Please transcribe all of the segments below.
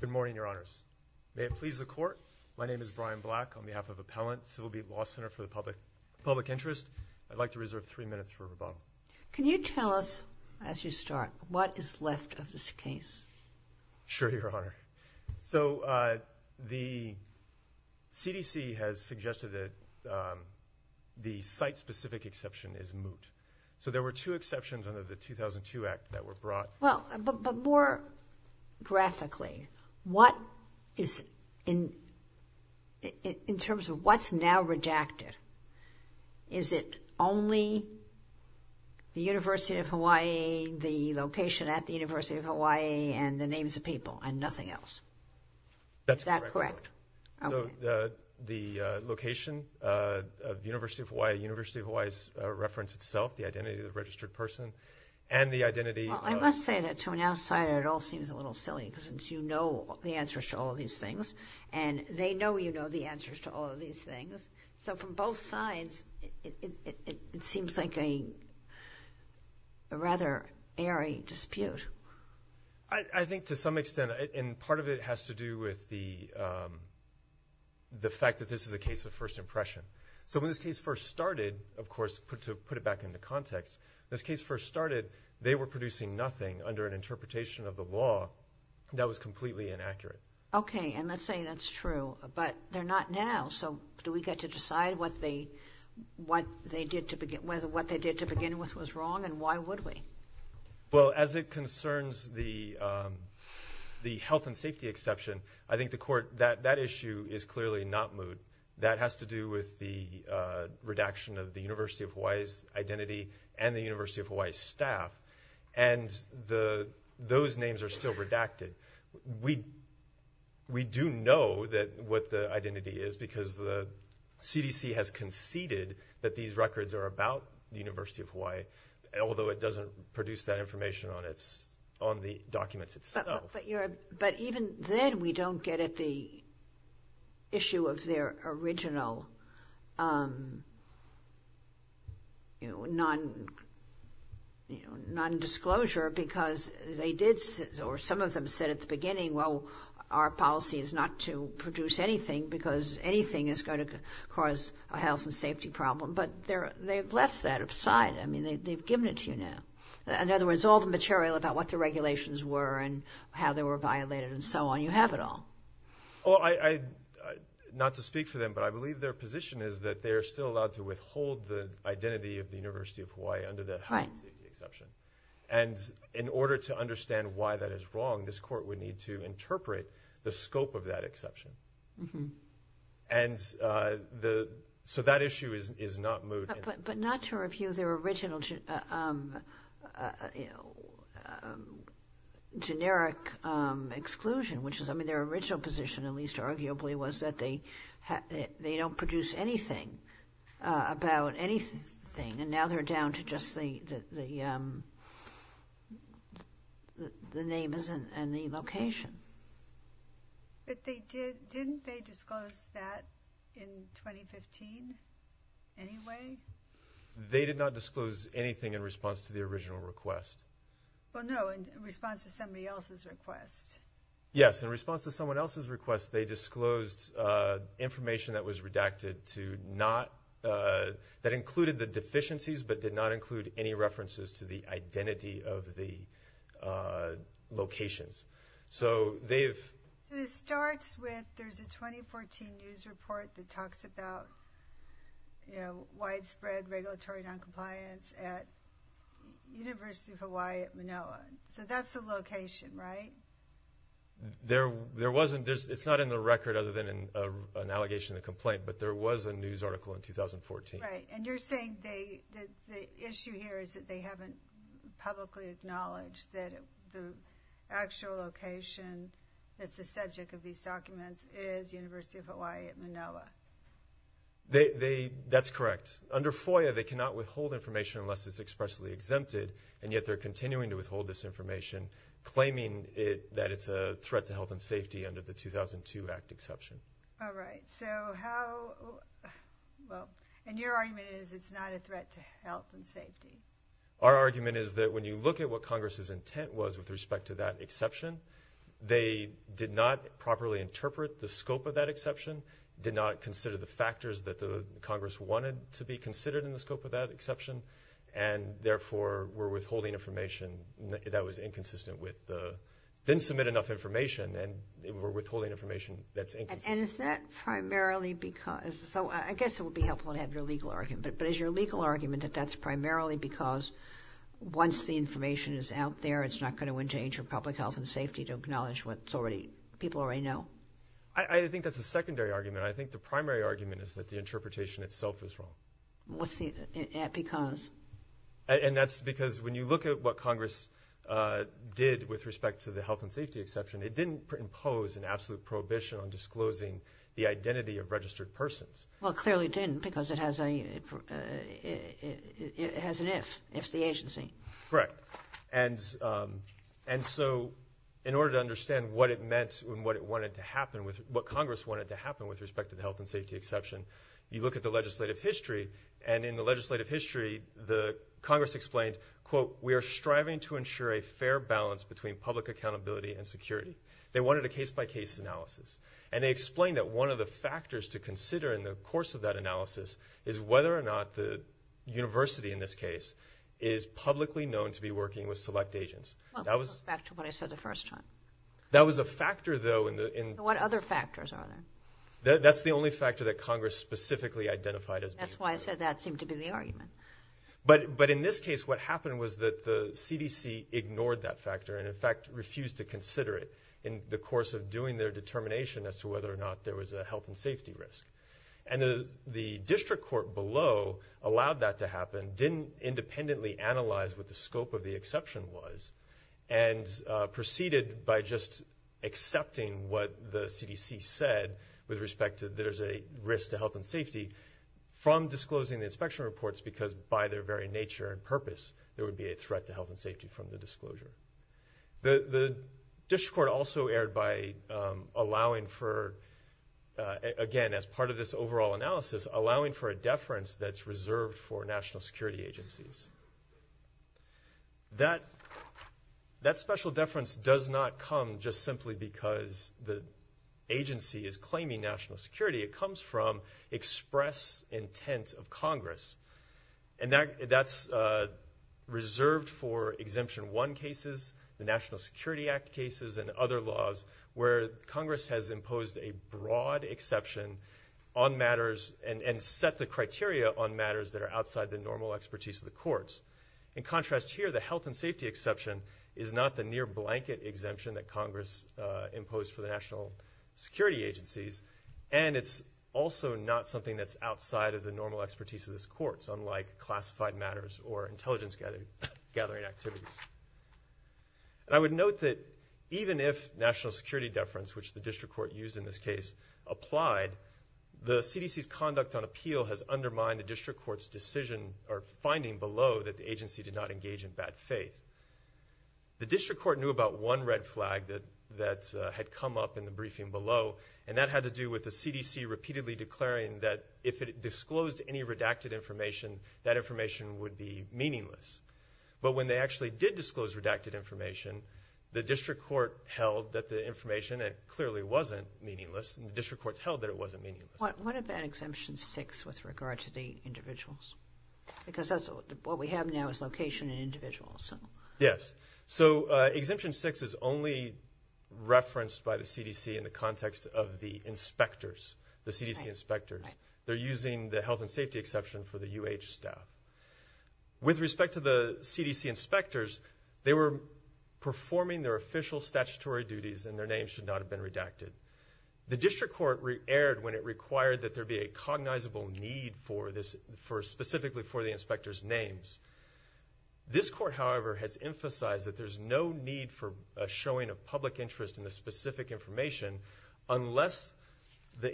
Good morning, Your Honors. May it please the Court, my name is Brian Black on behalf of Appellant Civil Beat Law Center for the Public Interest. I'd like to reserve three minutes for rebuttal. Can you tell us, as you start, what is left of this case? Sure, Your Honor. So the CDC has suggested that the site-specific exception is moot. So there were two exceptions under the 2002 Act that were brought. Well, but more graphically, what is, in terms of what's now redacted, is it only the University of Hawaii, the location at the University of Hawaii, and the names of people and nothing else? That's correct. So the location of the University of Hawaii, the University of Hawaii's reference itself, the identity of the registered person, and the identity... Well, I must say that to an outsider it all seems a little silly, because since you know the answers to all of these things, and they know you know the answers to all of these things, so from both sides it seems like a rather airy dispute. I think to some extent, and part of it has to do with the of course, to put it back into context, this case first started, they were producing nothing under an interpretation of the law that was completely inaccurate. Okay, and let's say that's true, but they're not now. So do we get to decide what they did to begin with was wrong, and why would we? Well, as it concerns the health and safety exception, I think the court, that issue is clearly not moot. That has to do with the redaction of the University of Hawaii's identity, and the University of Hawaii staff, and those names are still redacted. We do know that what the identity is, because the CDC has conceded that these records are about the University of Hawaii, although it doesn't produce that information on the documents itself. But even then we don't get the issue of their original non-disclosure, because they did, or some of them said at the beginning, well our policy is not to produce anything, because anything is going to cause a health and safety problem, but they've left that aside. I mean, they've given it to you now. In other words, all the material about what the regulations were, and how they were violated, and so on, you have it all. Well, I, not to speak for them, but I believe their position is that they are still allowed to withhold the identity of the University of Hawaii under the health and safety exception. And in order to understand why that is wrong, this court would need to interpret the scope of that exception. And the, so that issue is not moot. But not to review their original, you know, generic exclusion, which is, I mean, their original position, at least arguably, was that they don't produce anything about anything, and now they're down to just the, the name isn't, and the location. But they did, didn't they disclose that in 2015 anyway? They did not disclose anything in response to the original request. Well, no, in response to somebody else's request. Yes, in response to someone else's request, they disclosed information that was redacted to not, that included the deficiencies, but did not include any references to the identity of the locations. So they've... It starts with, there's a 2014 news report that there was no compliance at University of Hawaii at Manoa. So that's the location, right? There, there wasn't, there's, it's not in the record other than an allegation of complaint, but there was a news article in 2014. Right, and you're saying they, the issue here is that they haven't publicly acknowledged that the actual location that's the subject of these documents is University of Hawaii at Manoa. They, they, that's correct. Under FOIA, they cannot withhold information unless it's expressly exempted, and yet they're continuing to withhold this information, claiming it, that it's a threat to health and safety under the 2002 Act exception. All right, so how, well, and your argument is it's not a threat to health and safety? Our argument is that when you look at what Congress's intent was with respect to that exception, they did not properly interpret the scope of that exception, did not consider the factors that the Congress wanted to be considered in the scope of that exception, and therefore were withholding information that was inconsistent with the, didn't submit enough information, and they were withholding information that's inconsistent. And is that primarily because, so I guess it would be helpful to have your legal argument, but is your legal argument that that's primarily because once the information is out there, it's not going to endanger public health and safety to acknowledge what's already, people already know? I, I think that's a secondary argument. I think the primary argument is that the interpretation itself is wrong. What's the, because? And that's because when you look at what Congress did with respect to the health and safety exception, it didn't impose an absolute prohibition on disclosing the identity of registered persons. Well, clearly it didn't because it has a, it has an if, if the agency. Correct. And, and so in order to understand what it meant and what it wanted to happen with, what Congress wanted to happen with respect to the health and safety exception, you look at the legislative history, and in the legislative history, the Congress explained, quote, we are striving to ensure a fair balance between public accountability and security. They wanted a case-by-case analysis, and they explained that one of the factors in the course of that analysis is whether or not the university, in this case, is publicly known to be working with select agents. That was back to what I said the first time. That was a factor, though, in the, in. What other factors are there? That's the only factor that Congress specifically identified as being. That's why I said that seemed to be the argument. But, but in this case, what happened was that the CDC ignored that factor and, in fact, refused to consider it in the course of doing their determination as to whether or not there was a health and safety risk. And the, the district court below allowed that to happen, didn't independently analyze what the scope of the exception was, and proceeded by just accepting what the CDC said with respect to there's a risk to health and safety from disclosing the inspection reports because by their very nature and purpose, there would be a threat to health and safety from the disclosure. The, the district court also erred by allowing for, again, as part of this overall analysis, allowing for a deference that's reserved for national security agencies. That, that special deference does not come just simply because the agency is claiming national security. It comes from express intent of Congress. And that, that's reserved for Exemption 1 cases, the exception clause, where Congress has imposed a broad exception on matters and, and set the criteria on matters that are outside the normal expertise of the courts. In contrast here, the health and safety exception is not the near blanket exemption that Congress, uh, imposed for the national security agencies. And it's also not something that's outside of the normal expertise of this court. It's unlike classified matters or intelligence gathering, gathering activities. And I would note that even if national security deference, which the district court used in this case, applied, the CDC's conduct on appeal has undermined the district court's decision or finding below that the agency did not engage in bad faith. The district court knew about one red flag that, that, uh, had come up in the briefing below. And that had to do with the CDC repeatedly declaring that if it disclosed any redacted information, that information would be meaningless. But when they actually did disclose redacted information, the district court held that the information, it clearly wasn't meaningless. And the district court held that it wasn't meaningless. What, what about Exemption 6 with regard to the individuals? Because that's what we have now is location and individuals, so. Yes. So, uh, Exemption 6 is only referenced by the CDC in the context of the inspectors, the CDC inspectors. They're using the health and safety exception for the UH staff. With respect to the CDC inspectors, they were performing their official statutory duties and their names should not have been redacted. The district court erred when it required that there be a cognizable need for this, for specifically for the inspector's names. This court, however, has emphasized that there's no need for showing a public interest in the specific information unless the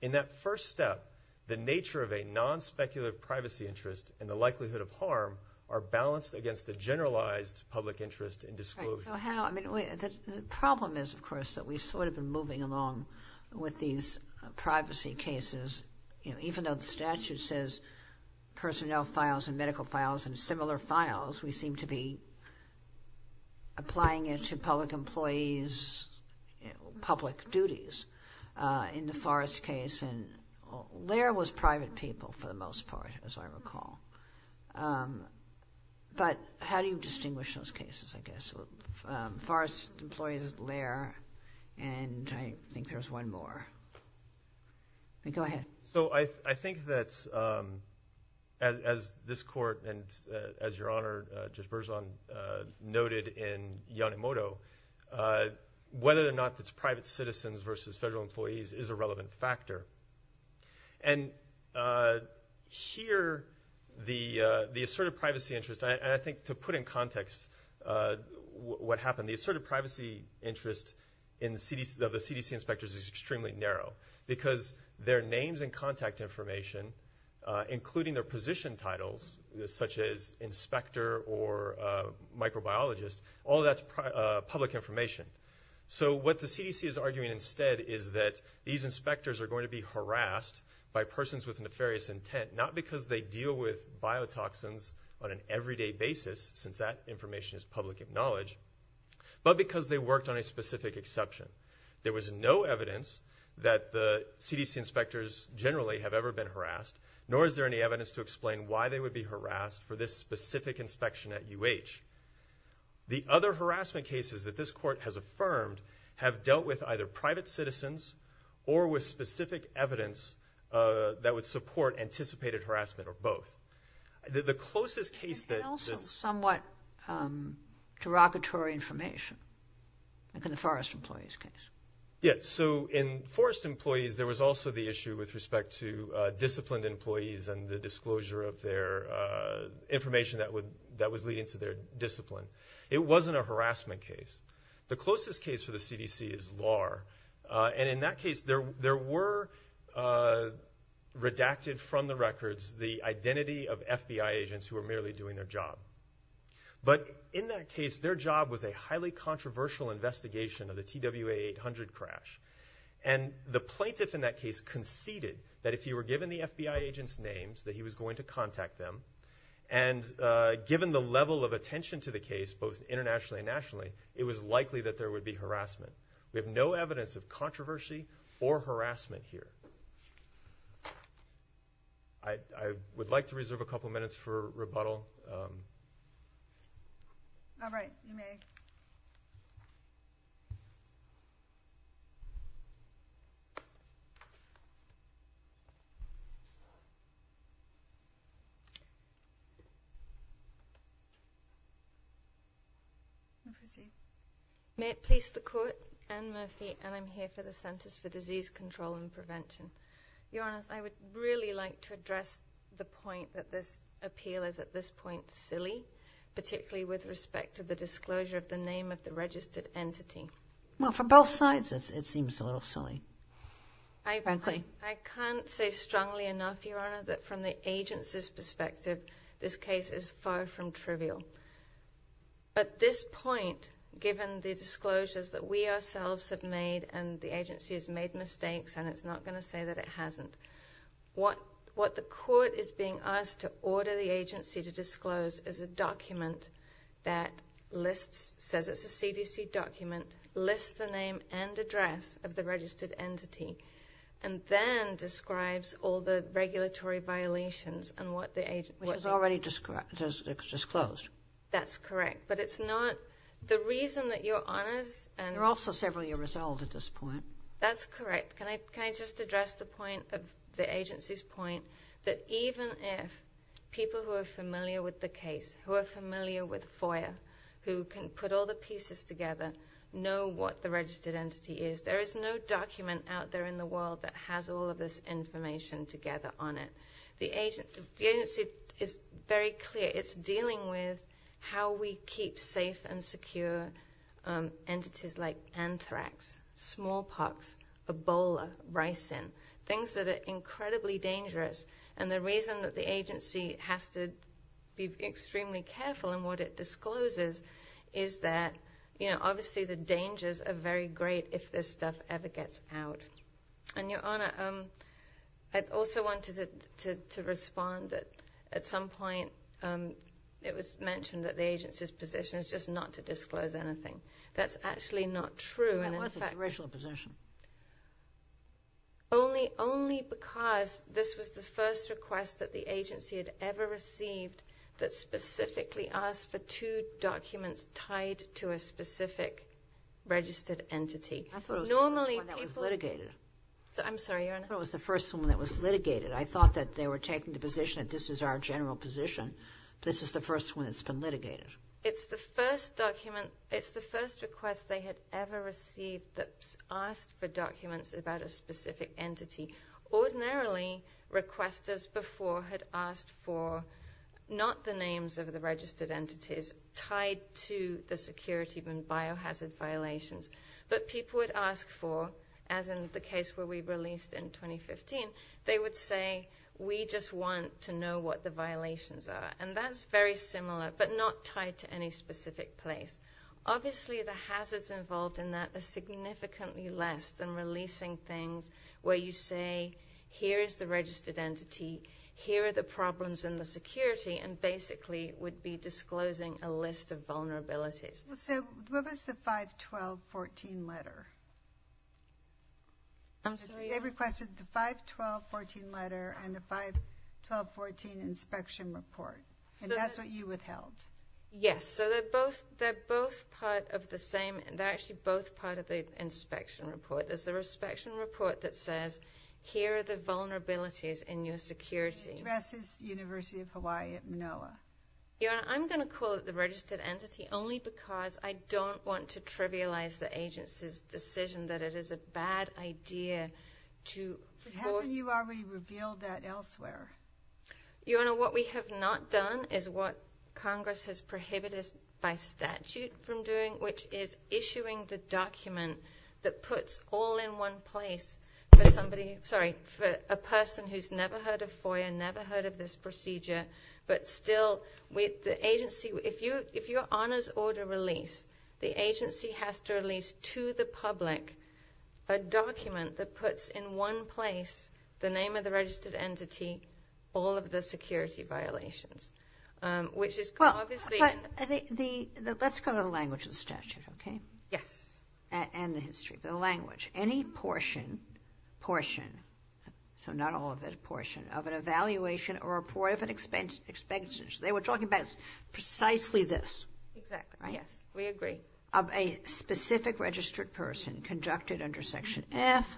In that first step, the nature of a non-speculative privacy interest and the likelihood of harm are balanced against the generalized public interest in disclosure. Right. So how, I mean, the problem is, of course, that we've sort of been moving along with these privacy cases. You know, even though the statute says personnel files and medical files and similar files, we seem to be applying it to public employees, public duties. In the Forrest case, and Laird was private people for the most part, as I recall. But how do you distinguish those cases, I guess? Forrest employs Laird, and I think there's one more. Go ahead. So I think that as this court, and as Your Honor, Judge Berzon noted in Yonemoto, whether or not it's private citizens versus federal employees is a relevant factor. And here, the asserted privacy interest, and I think to put in context what happened, the asserted privacy interest of the CDC inspectors is extremely narrow, because their names and contact information, including their position titles, such as inspector or microbiologist, all that's public information. So what the CDC is arguing instead is that these inspectors are going to be harassed by persons with nefarious intent, not because they deal with biotoxins on an everyday basis, since that information is public knowledge, but because they worked on a specific exception. There was no evidence that the CDC inspectors generally have ever been harassed, nor is there any evidence to explain why they would be harassed for this specific inspection at UH. The other harassment cases that this court has affirmed have dealt with either private citizens or with specific evidence that would support anticipated harassment, or both. The closest case that this... And also somewhat derogatory information, like in the Forrest employees case. Yeah, so in Forrest employees, there was also the issue with respect to disciplined employees and the disclosure of their information that was leading to their FBI agents who were merely doing their job. But in that case, their job was a highly controversial investigation of the TWA 800 crash. And the plaintiff in that case conceded that if he were given the FBI agent's names, that he was going to contact them, and given the level of attention to the case, both internationally and nationally, it was likely that there would be an investigation of the TWA 800 crash. I would like to reserve a couple of minutes for rebuttal. All right, you may proceed. May it please the Court, Anne Murphy, and I'm here for the Centers for Disease Control and Prevention. Your Honor, I would really like to address the point that this appeal is at this point silly, particularly with respect to the disclosure of the name of the registered entity. Well, for both sides, it seems a little silly, frankly. I can't say strongly enough, Your Honor, that from the agency's perspective, this case is far from trivial. At this point, given the disclosures that we ourselves have made and the agency has made mistakes, and it's not going to say that it hasn't, what the Court is being asked to order the agency to disclose is a document that lists, says it's a CDC document, lists the name and address of the registered entity, and then describes all the regulatory violations and what the agency... Which is already disclosed. That's correct. But it's not, the reason that Your Honors... They're also several years old at this point. That's correct. Can I just address the point, the agency's point, that even if people who are familiar with the case, who are familiar with FOIA, who can put all the pieces together, know what the registered entity is, there is no document out there in the world that has all of this information together on it. The agency is very clear. It's dealing with how we keep safe and secure entities like anthrax, smallpox, Ebola, ricin, things that are incredibly dangerous. And the reason that the agency has to be extremely careful in what it discloses is that, you know, obviously the dangers are very great if this stuff ever gets out. And Your Honor, I also wanted to respond that at some point it was mentioned that the agency's position is just not to disclose anything. That's actually not true. That was its original position. Only because this was the first request that the agency had ever received that specifically asked for two documents tied to a specific registered entity. I thought it was the first one that was litigated. I'm sorry, Your Honor. I thought it was the first one that was litigated. I thought that they were taking the position that this is our general position. This is the first one that's been litigated. It's the first document, it's the first request they had ever received that asked for documents about a specific entity. Ordinarily, requesters before had asked for not the names of the registered entities tied to the security and biohazard violations. But people would ask for, as in the case where we released in 2015, they would say, we just want to know what the violations are. And that's very similar, but not tied to any specific place. Obviously, the hazards involved in that are significantly less than releasing things where you say, here is the registered entity, here are the problems in the security, and basically would be disclosing a list of vulnerabilities. So what was the 512.14 letter? I'm sorry? They requested the 512.14 letter and the 512.14 inspection report. And that's what you withheld. Yes. So they're both part of the same, they're actually both part of the inspection report. There's the inspection report that says, here are the vulnerabilities in your security. Addresses University of Hawaii at Manoa. Your Honor, I'm going to call it the registered entity only because I don't want to trivialize the agency's decision that it is a bad idea to... But haven't you already revealed that elsewhere? Your Honor, what we have not done is what Congress has prohibited us by statute from doing, which is issuing the document that puts all in one place for somebody, sorry, for a person who's never heard of FOIA, never heard of this procedure, but still with the agency. If your Honor's order released, the agency has to release to the public a document that puts in one place the name of the registered entity, all of the security violations, which is obviously... Let's go to the language of the statute, okay? Yes. And the history, the language. Any portion, portion, so not all of it, portion of an evaluation or a portion of an inspection. They were talking about precisely this. Exactly. Yes, we agree. Of a specific registered person conducted under Section F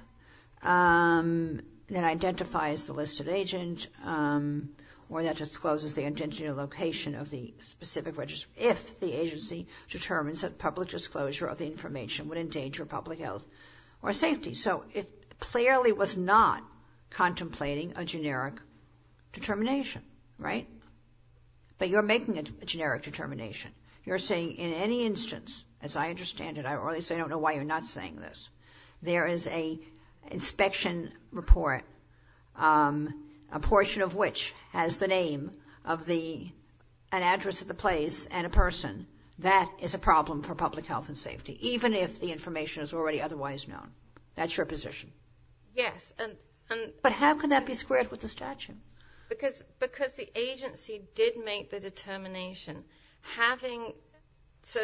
that identifies the listed agent or that discloses the intention or location of the specific register if the agency determines that public disclosure of the information would endanger public health or safety. So it clearly was not contemplating a generic determination, right? But you're making a generic determination. You're saying in any instance, as I understand it, or at least I don't know why you're not saying this, there is an inspection report, a portion of which has the name of an address of the place and a person. That is a problem for public health and safety, even if the information is already otherwise known. That's your position. Yes, and... But how can that be squared with the statute? Because the agency did make the determination. Having... So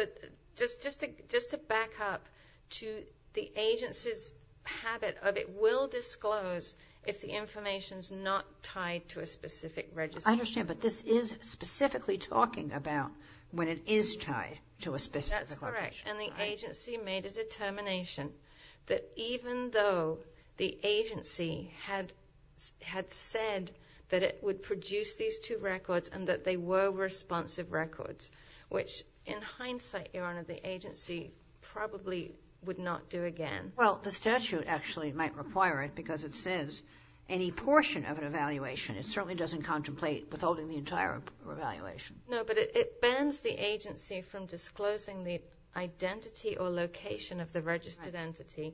just to back up to the agency's habit of it will disclose if the information is not tied to a specific register. I understand, but this is specifically talking about when it is tied to a specific location. That's correct. And the agency made a determination that even though the agency had said that it would produce these two records and that they were responsive records, which in hindsight, Your Honor, the agency probably would not do again. Well, the statute actually might require it because it says any portion of an evaluation, it certainly doesn't contemplate withholding the entire evaluation. No, but it bans the agency from disclosing the identity or location of the registered entity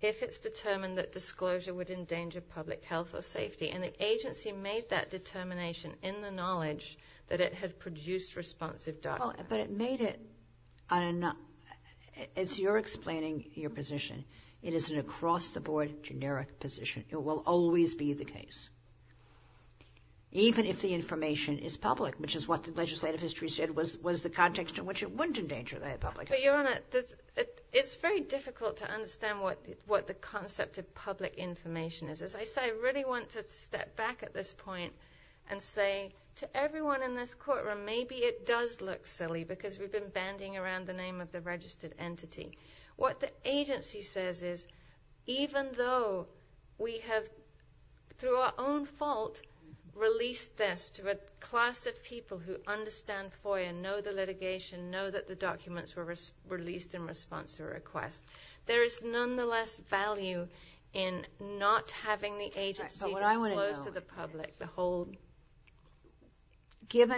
if it's determined that disclosure would endanger public health or safety, and the agency made that determination in the knowledge that it had produced responsive documents. But it made it on a... As you're explaining your position, it is an across-the-board generic position. It will always be the case, even if the information is public, which is what the legislative history said was the context in which it wouldn't endanger public health. But, Your Honor, it's very difficult to understand what the concept of public information is. As I say, I really want to step back at this point and say to everyone in this courtroom, maybe it does look silly because we've been bandying around the name of the registered entity. What the agency says is even though we have, through our own fault, released this to a class of people who understand FOIA, know the litigation, know that the documents were released in response to a request, there is nonetheless value in not having the agency disclose to the public the whole... You're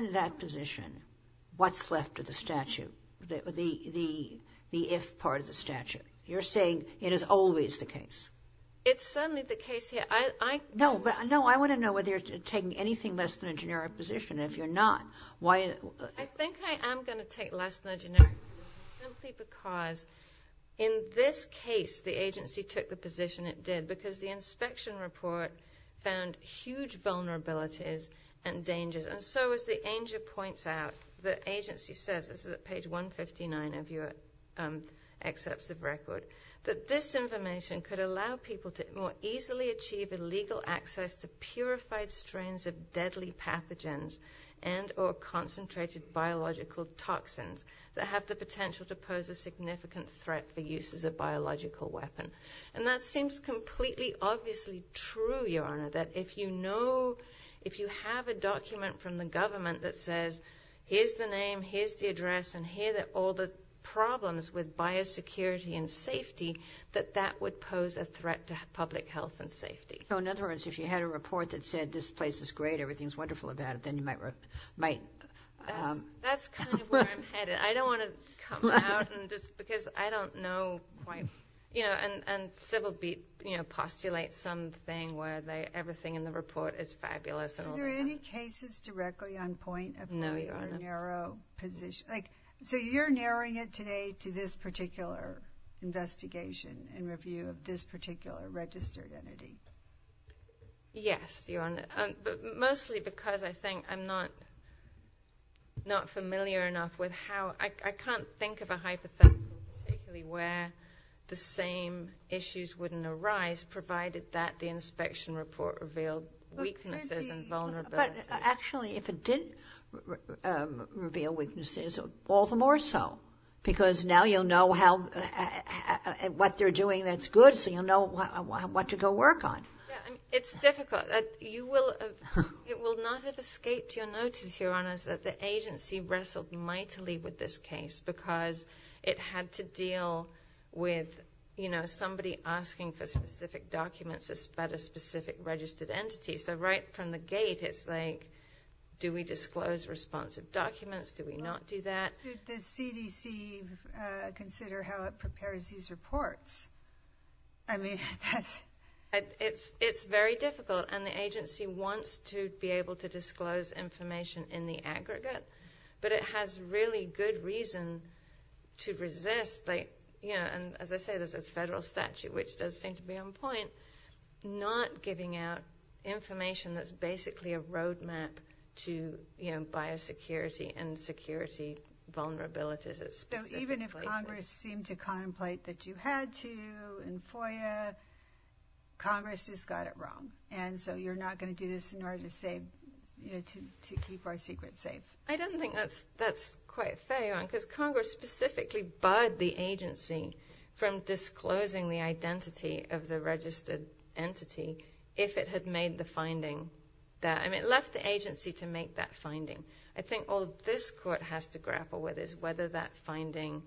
saying it is always the case. It's certainly the case here. No, I want to know whether you're taking anything less than a generic position. If you're not, why... I think I am going to take less than a generic position simply because in this case, the agency took the position it did because the inspection report found huge vulnerabilities and dangers. And so, as the anger points out, the agency says, this is at page 159 of your excerpts of record, that this information could allow people to more easily achieve illegal access to purified strains of deadly pathogens and or concentrated biological toxins that have the potential to pose a significant threat for use as a biological weapon. That if you know, if you have a document from the government that says, here's the name, here's the address, and here are all the problems with biosecurity and safety, that that would pose a threat to public health and safety. So, in other words, if you had a report that said, this place is great, everything's wonderful about it, then you might... That's kind of where I'm headed. I don't want to come out because I don't know quite... And civil be... You know, postulate something where everything in the report is fabulous. Are there any cases directly on point? No, Your Honor. So, you're narrowing it today to this particular investigation and review of this particular registered entity? Yes, Your Honor. But mostly because I think I'm not familiar enough with how... I can't think of a hypothetical particularly where the same issues wouldn't arise, provided that the inspection report revealed weaknesses and vulnerabilities. But actually, if it didn't reveal weaknesses, all the more so. Because now you'll know what they're doing that's good, so you'll know what to go work on. It's difficult. It will not have escaped your notice, Your Honors, that the agency wrestled mightily with this case because it had to deal with somebody asking for specific documents about a specific registered entity. So, right from the gate, it's like, do we disclose responsive documents, do we not do that? Did the CDC consider how it prepares these reports? I mean, that's... It's very difficult, and the agency wants to be able to disclose information in the aggregate, but it has really good reason to resist, and as I say, there's this federal statute, which does seem to be on point, not giving out information that's basically a roadmap to biosecurity and security vulnerabilities at specific places. Even if Congress seemed to contemplate that you had to in FOIA, Congress just got it wrong, and so you're not going to do this in order to keep our secrets safe? I don't think that's quite fair, Your Honor, because Congress specifically barred the agency from disclosing the identity of the registered entity if it had made the finding there. I mean, it left the agency to make that finding. I think all this court has to grapple with is whether that finding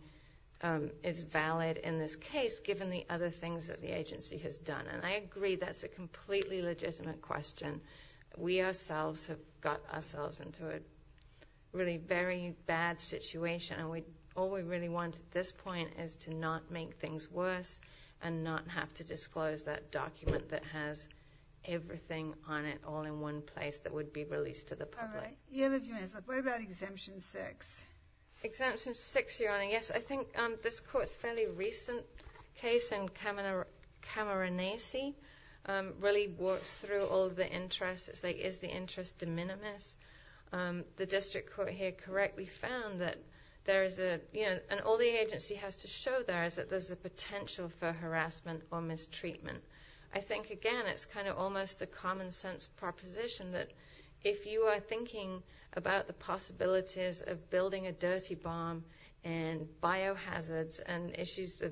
is valid in this case, given the other things that the agency has done, and I agree that's a completely legitimate question. We ourselves have got ourselves into a really very bad situation, and all we really want at this point is to not make things worse and not have to disclose that document that has everything on it all in one place that would be released to the public. You have a few minutes left. What about Exemption 6? Exemption 6, Your Honor, yes. I think this court's fairly recent case in Cameronesi really walks through all of the interests. It's like, is the interest de minimis? The district court here correctly found that there is a— and all the agency has to show there is that there's a potential for harassment or mistreatment. I think, again, it's kind of almost a common-sense proposition that if you are thinking about the possibilities of building a dirty bomb and biohazards and issues of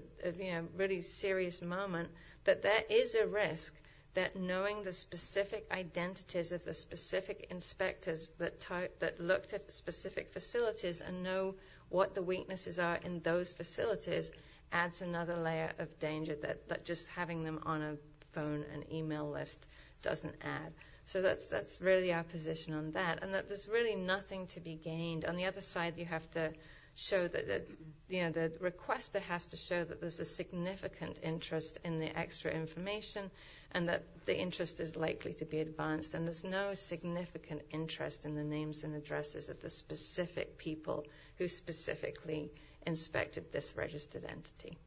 really serious moment, that there is a risk that knowing the specific identities of the specific inspectors that looked at the specific facilities and know what the weaknesses are in those facilities adds another layer of danger that just having them on a phone and email list doesn't add. So that's really our position on that, and that there's really nothing to be gained. On the other side, you have to show that the requester has to show that there's a significant interest in the extra information and that the interest is likely to be advanced, and there's no significant interest in the names and addresses of the specific people who specifically inspected this registered entity.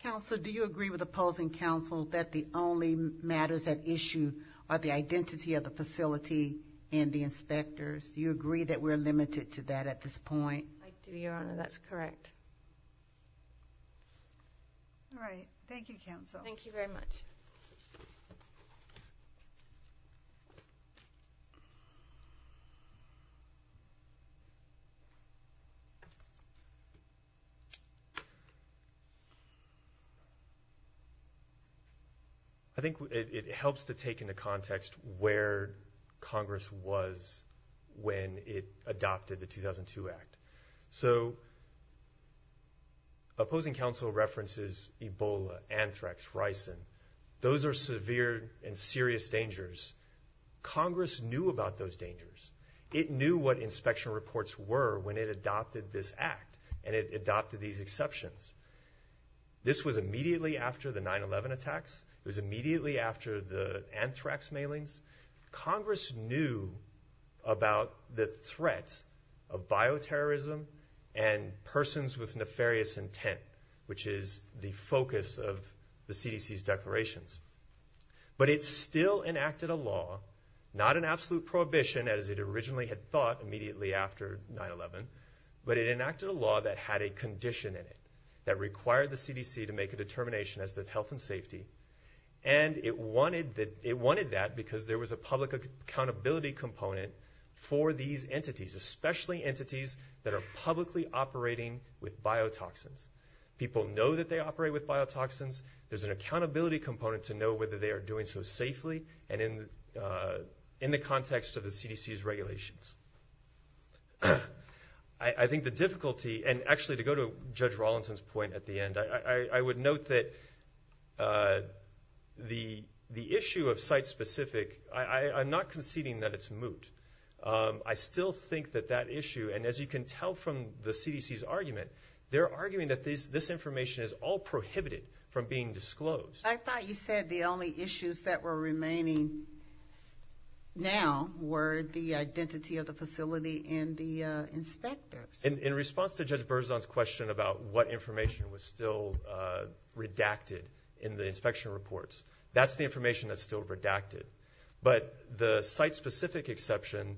Counsel, do you agree with opposing counsel that the only matters at issue are the identity of the facility and the inspectors? Do you agree that we're limited to that at this point? I do, Your Honor. That's correct. All right. Thank you, counsel. Thank you very much. I think it helps to take into context where Congress was when it adopted the 2002 Act. So opposing counsel references Ebola, anthrax, ricin. Those are severe and serious dangers. Congress knew about those dangers. It knew what inspection reports were when it adopted this Act and it adopted these exceptions. This was immediately after the 9-11 attacks. It was immediately after the anthrax mailings. Congress knew about the threat of bioterrorism and persons with nefarious intent, which is the focus of the CDC's declarations. But it still enacted a law, not an absolute prohibition as it originally had thought immediately after 9-11, but it enacted a law that had a condition in it that required the CDC to make a determination as to health and safety, and it wanted that because there was a public accountability component for these entities, especially entities that are publicly operating with biotoxins. People know that they operate with biotoxins. There's an accountability component to know whether they are doing so safely and in the context of the CDC's regulations. I think the difficulty, and actually to go to Judge Rawlinson's point at the end, I would note that the issue of site-specific, I'm not conceding that it's moot. I still think that that issue, and as you can tell from the CDC's argument, they're arguing that this information is all prohibited from being disclosed. I thought you said the only issues that were remaining now were the identity of the facility and the inspectors. In response to Judge Berzon's question about what information was still redacted in the inspection reports, that's the information that's still redacted. But the site-specific exception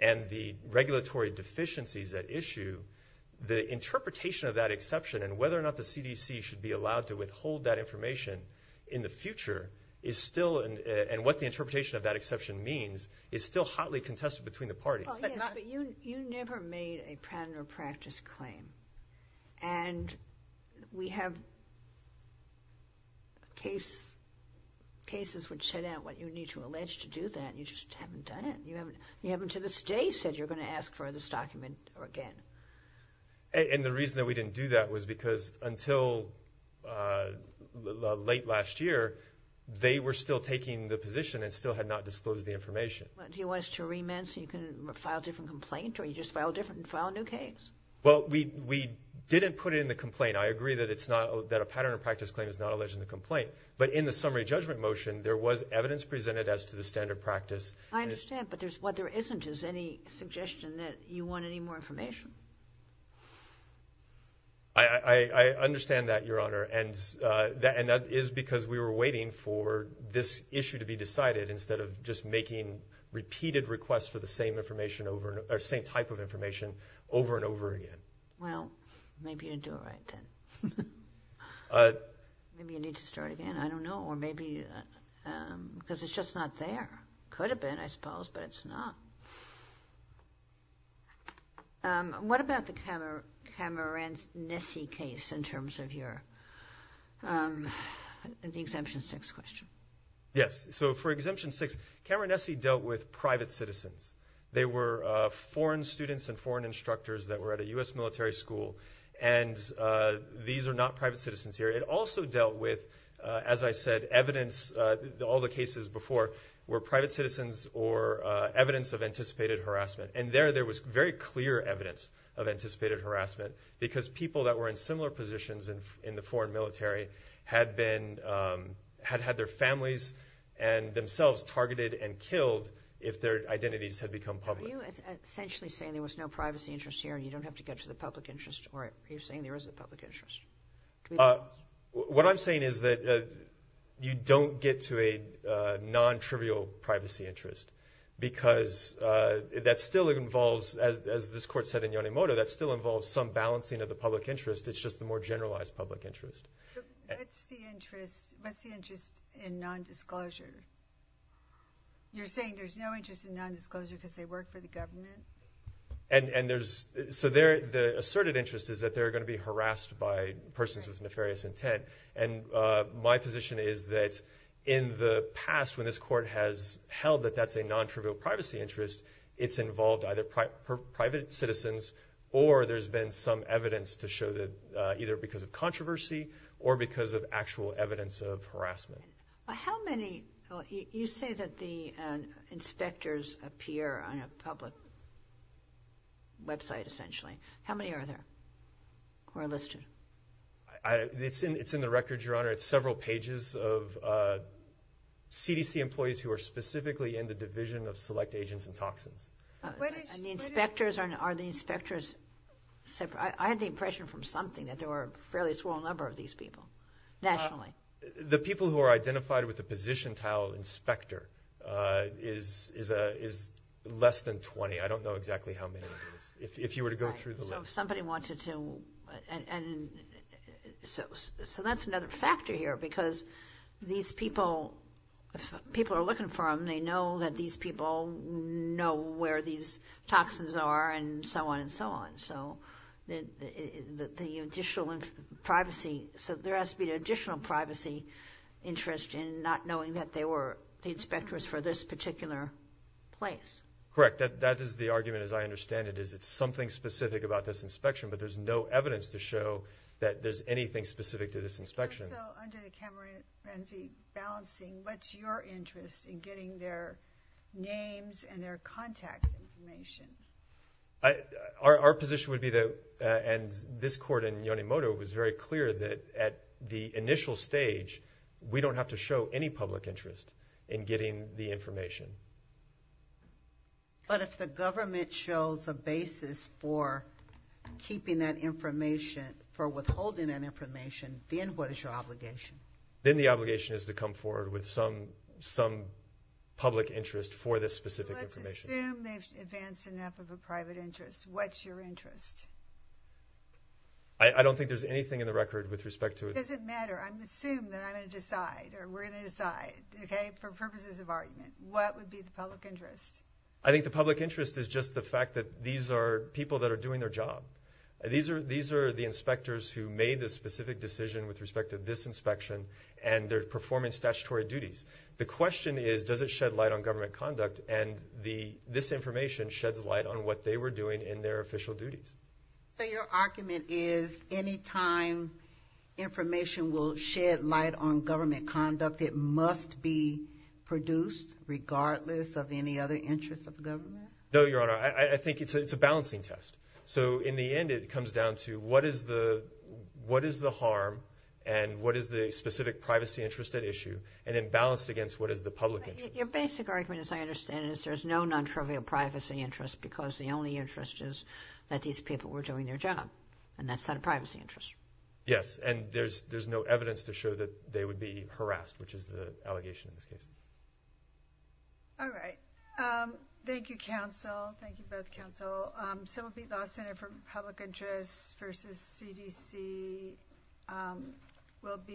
and the regulatory deficiencies at issue, the interpretation of that exception and whether or not the CDC should be allowed to withhold that information in the future, and what the interpretation of that exception means, is still hotly contested between the parties. Well, yes, but you never made a patent or practice claim. And we have cases which set out what you need to allege to do that. You just haven't done it. You haven't to this day said you're going to ask for this document again. And the reason that we didn't do that was because until late last year, they were still taking the position and still had not disclosed the information. Do you want us to remit so you can file a different complaint or you just file a new case? Well, we didn't put it in the complaint. I agree that a patent or practice claim is not alleged in the complaint. But in the summary judgment motion, there was evidence presented as to the standard practice. I understand, but what there isn't is any suggestion that you want any more information. I understand that, Your Honor. And that is because we were waiting for this issue to be decided instead of just making repeated requests for the same type of information over and over again. Well, maybe you didn't do it right then. Maybe you need to start again. I don't know. Or maybe because it's just not there. It could have been, I suppose, but it's not. What about the Cameron Nessie case in terms of your Exemption 6 question? Yes. So for Exemption 6, Cameron Nessie dealt with private citizens. They were foreign students and foreign instructors that were at a U.S. military school, and these are not private citizens here. It also dealt with, as I said, evidence. All the cases before were private citizens or evidence of anticipated harassment, and there was very clear evidence of anticipated harassment because people that were in similar positions in the foreign military had had their families and themselves targeted and killed if their identities had become public. Are you essentially saying there was no privacy interest here and you don't have to go to the public interest? Or are you saying there is a public interest? What I'm saying is that you don't get to a non-trivial privacy interest because that still involves, as this court said in Yonemoto, that still involves some balancing of the public interest. It's just the more generalized public interest. What's the interest in nondisclosure? You're saying there's no interest in nondisclosure because they work for the government? The asserted interest is that they're going to be harassed by persons with nefarious intent. My position is that in the past when this court has held that that's a non-trivial privacy interest, it's involved either private citizens or there's been some evidence to show that either because of controversy or because of actual evidence of harassment. You say that the inspectors appear on a public website, essentially. How many are there who are listed? It's in the records, Your Honor. It's several pages of CDC employees who are specifically in the Division of Select Agents and Toxins. Are the inspectors separate? I had the impression from something that there were a fairly small number of these people nationally. The people who are identified with the position title inspector is less than 20. I don't know exactly how many it is. If you were to go through the list. So that's another factor here because these people, if people are looking for them, they know that these people know where these toxins are and so on and so on. So there has to be an additional privacy interest in not knowing that they were the inspectors for this particular place. Correct. That is the argument, as I understand it, is it's something specific about this inspection, but there's no evidence to show that there's anything specific to this inspection. So under the camera frenzy balancing, what's your interest in getting their names and their contact information? Our position would be that, and this court in Yonemoto was very clear that at the initial stage, we don't have to show any public interest in getting the information. But if the government shows a basis for keeping that information, for withholding that information, then what is your obligation? Then the obligation is to come forward with some public interest for this specific information. Let's assume they've advanced enough of a private interest. What's your interest? I don't think there's anything in the record with respect to it. It doesn't matter. I'm going to assume that I'm going to decide or we're going to decide, okay, for purposes of argument. What would be the public interest? I think the public interest is just the fact that these are people that are doing their job. These are the inspectors who made the specific decision with respect to this inspection and they're performing statutory duties. The question is, does it shed light on government conduct? And this information sheds light on what they were doing in their official duties. So your argument is any time information will shed light on government conduct, it must be produced regardless of any other interest of government? No, Your Honor. I think it's a balancing test. So in the end, it comes down to what is the harm and what is the specific privacy interest at issue and then balanced against what is the public interest. Your basic argument, as I understand it, is there's no non-trivial privacy interest because the only interest is that these people were doing their job and that's not a privacy interest. Yes, and there's no evidence to show that they would be harassed, which is the allegation in this case. All right. Thank you, counsel. Thank you both, counsel. Civil Pete Law Center for Public Interest versus CDC will be.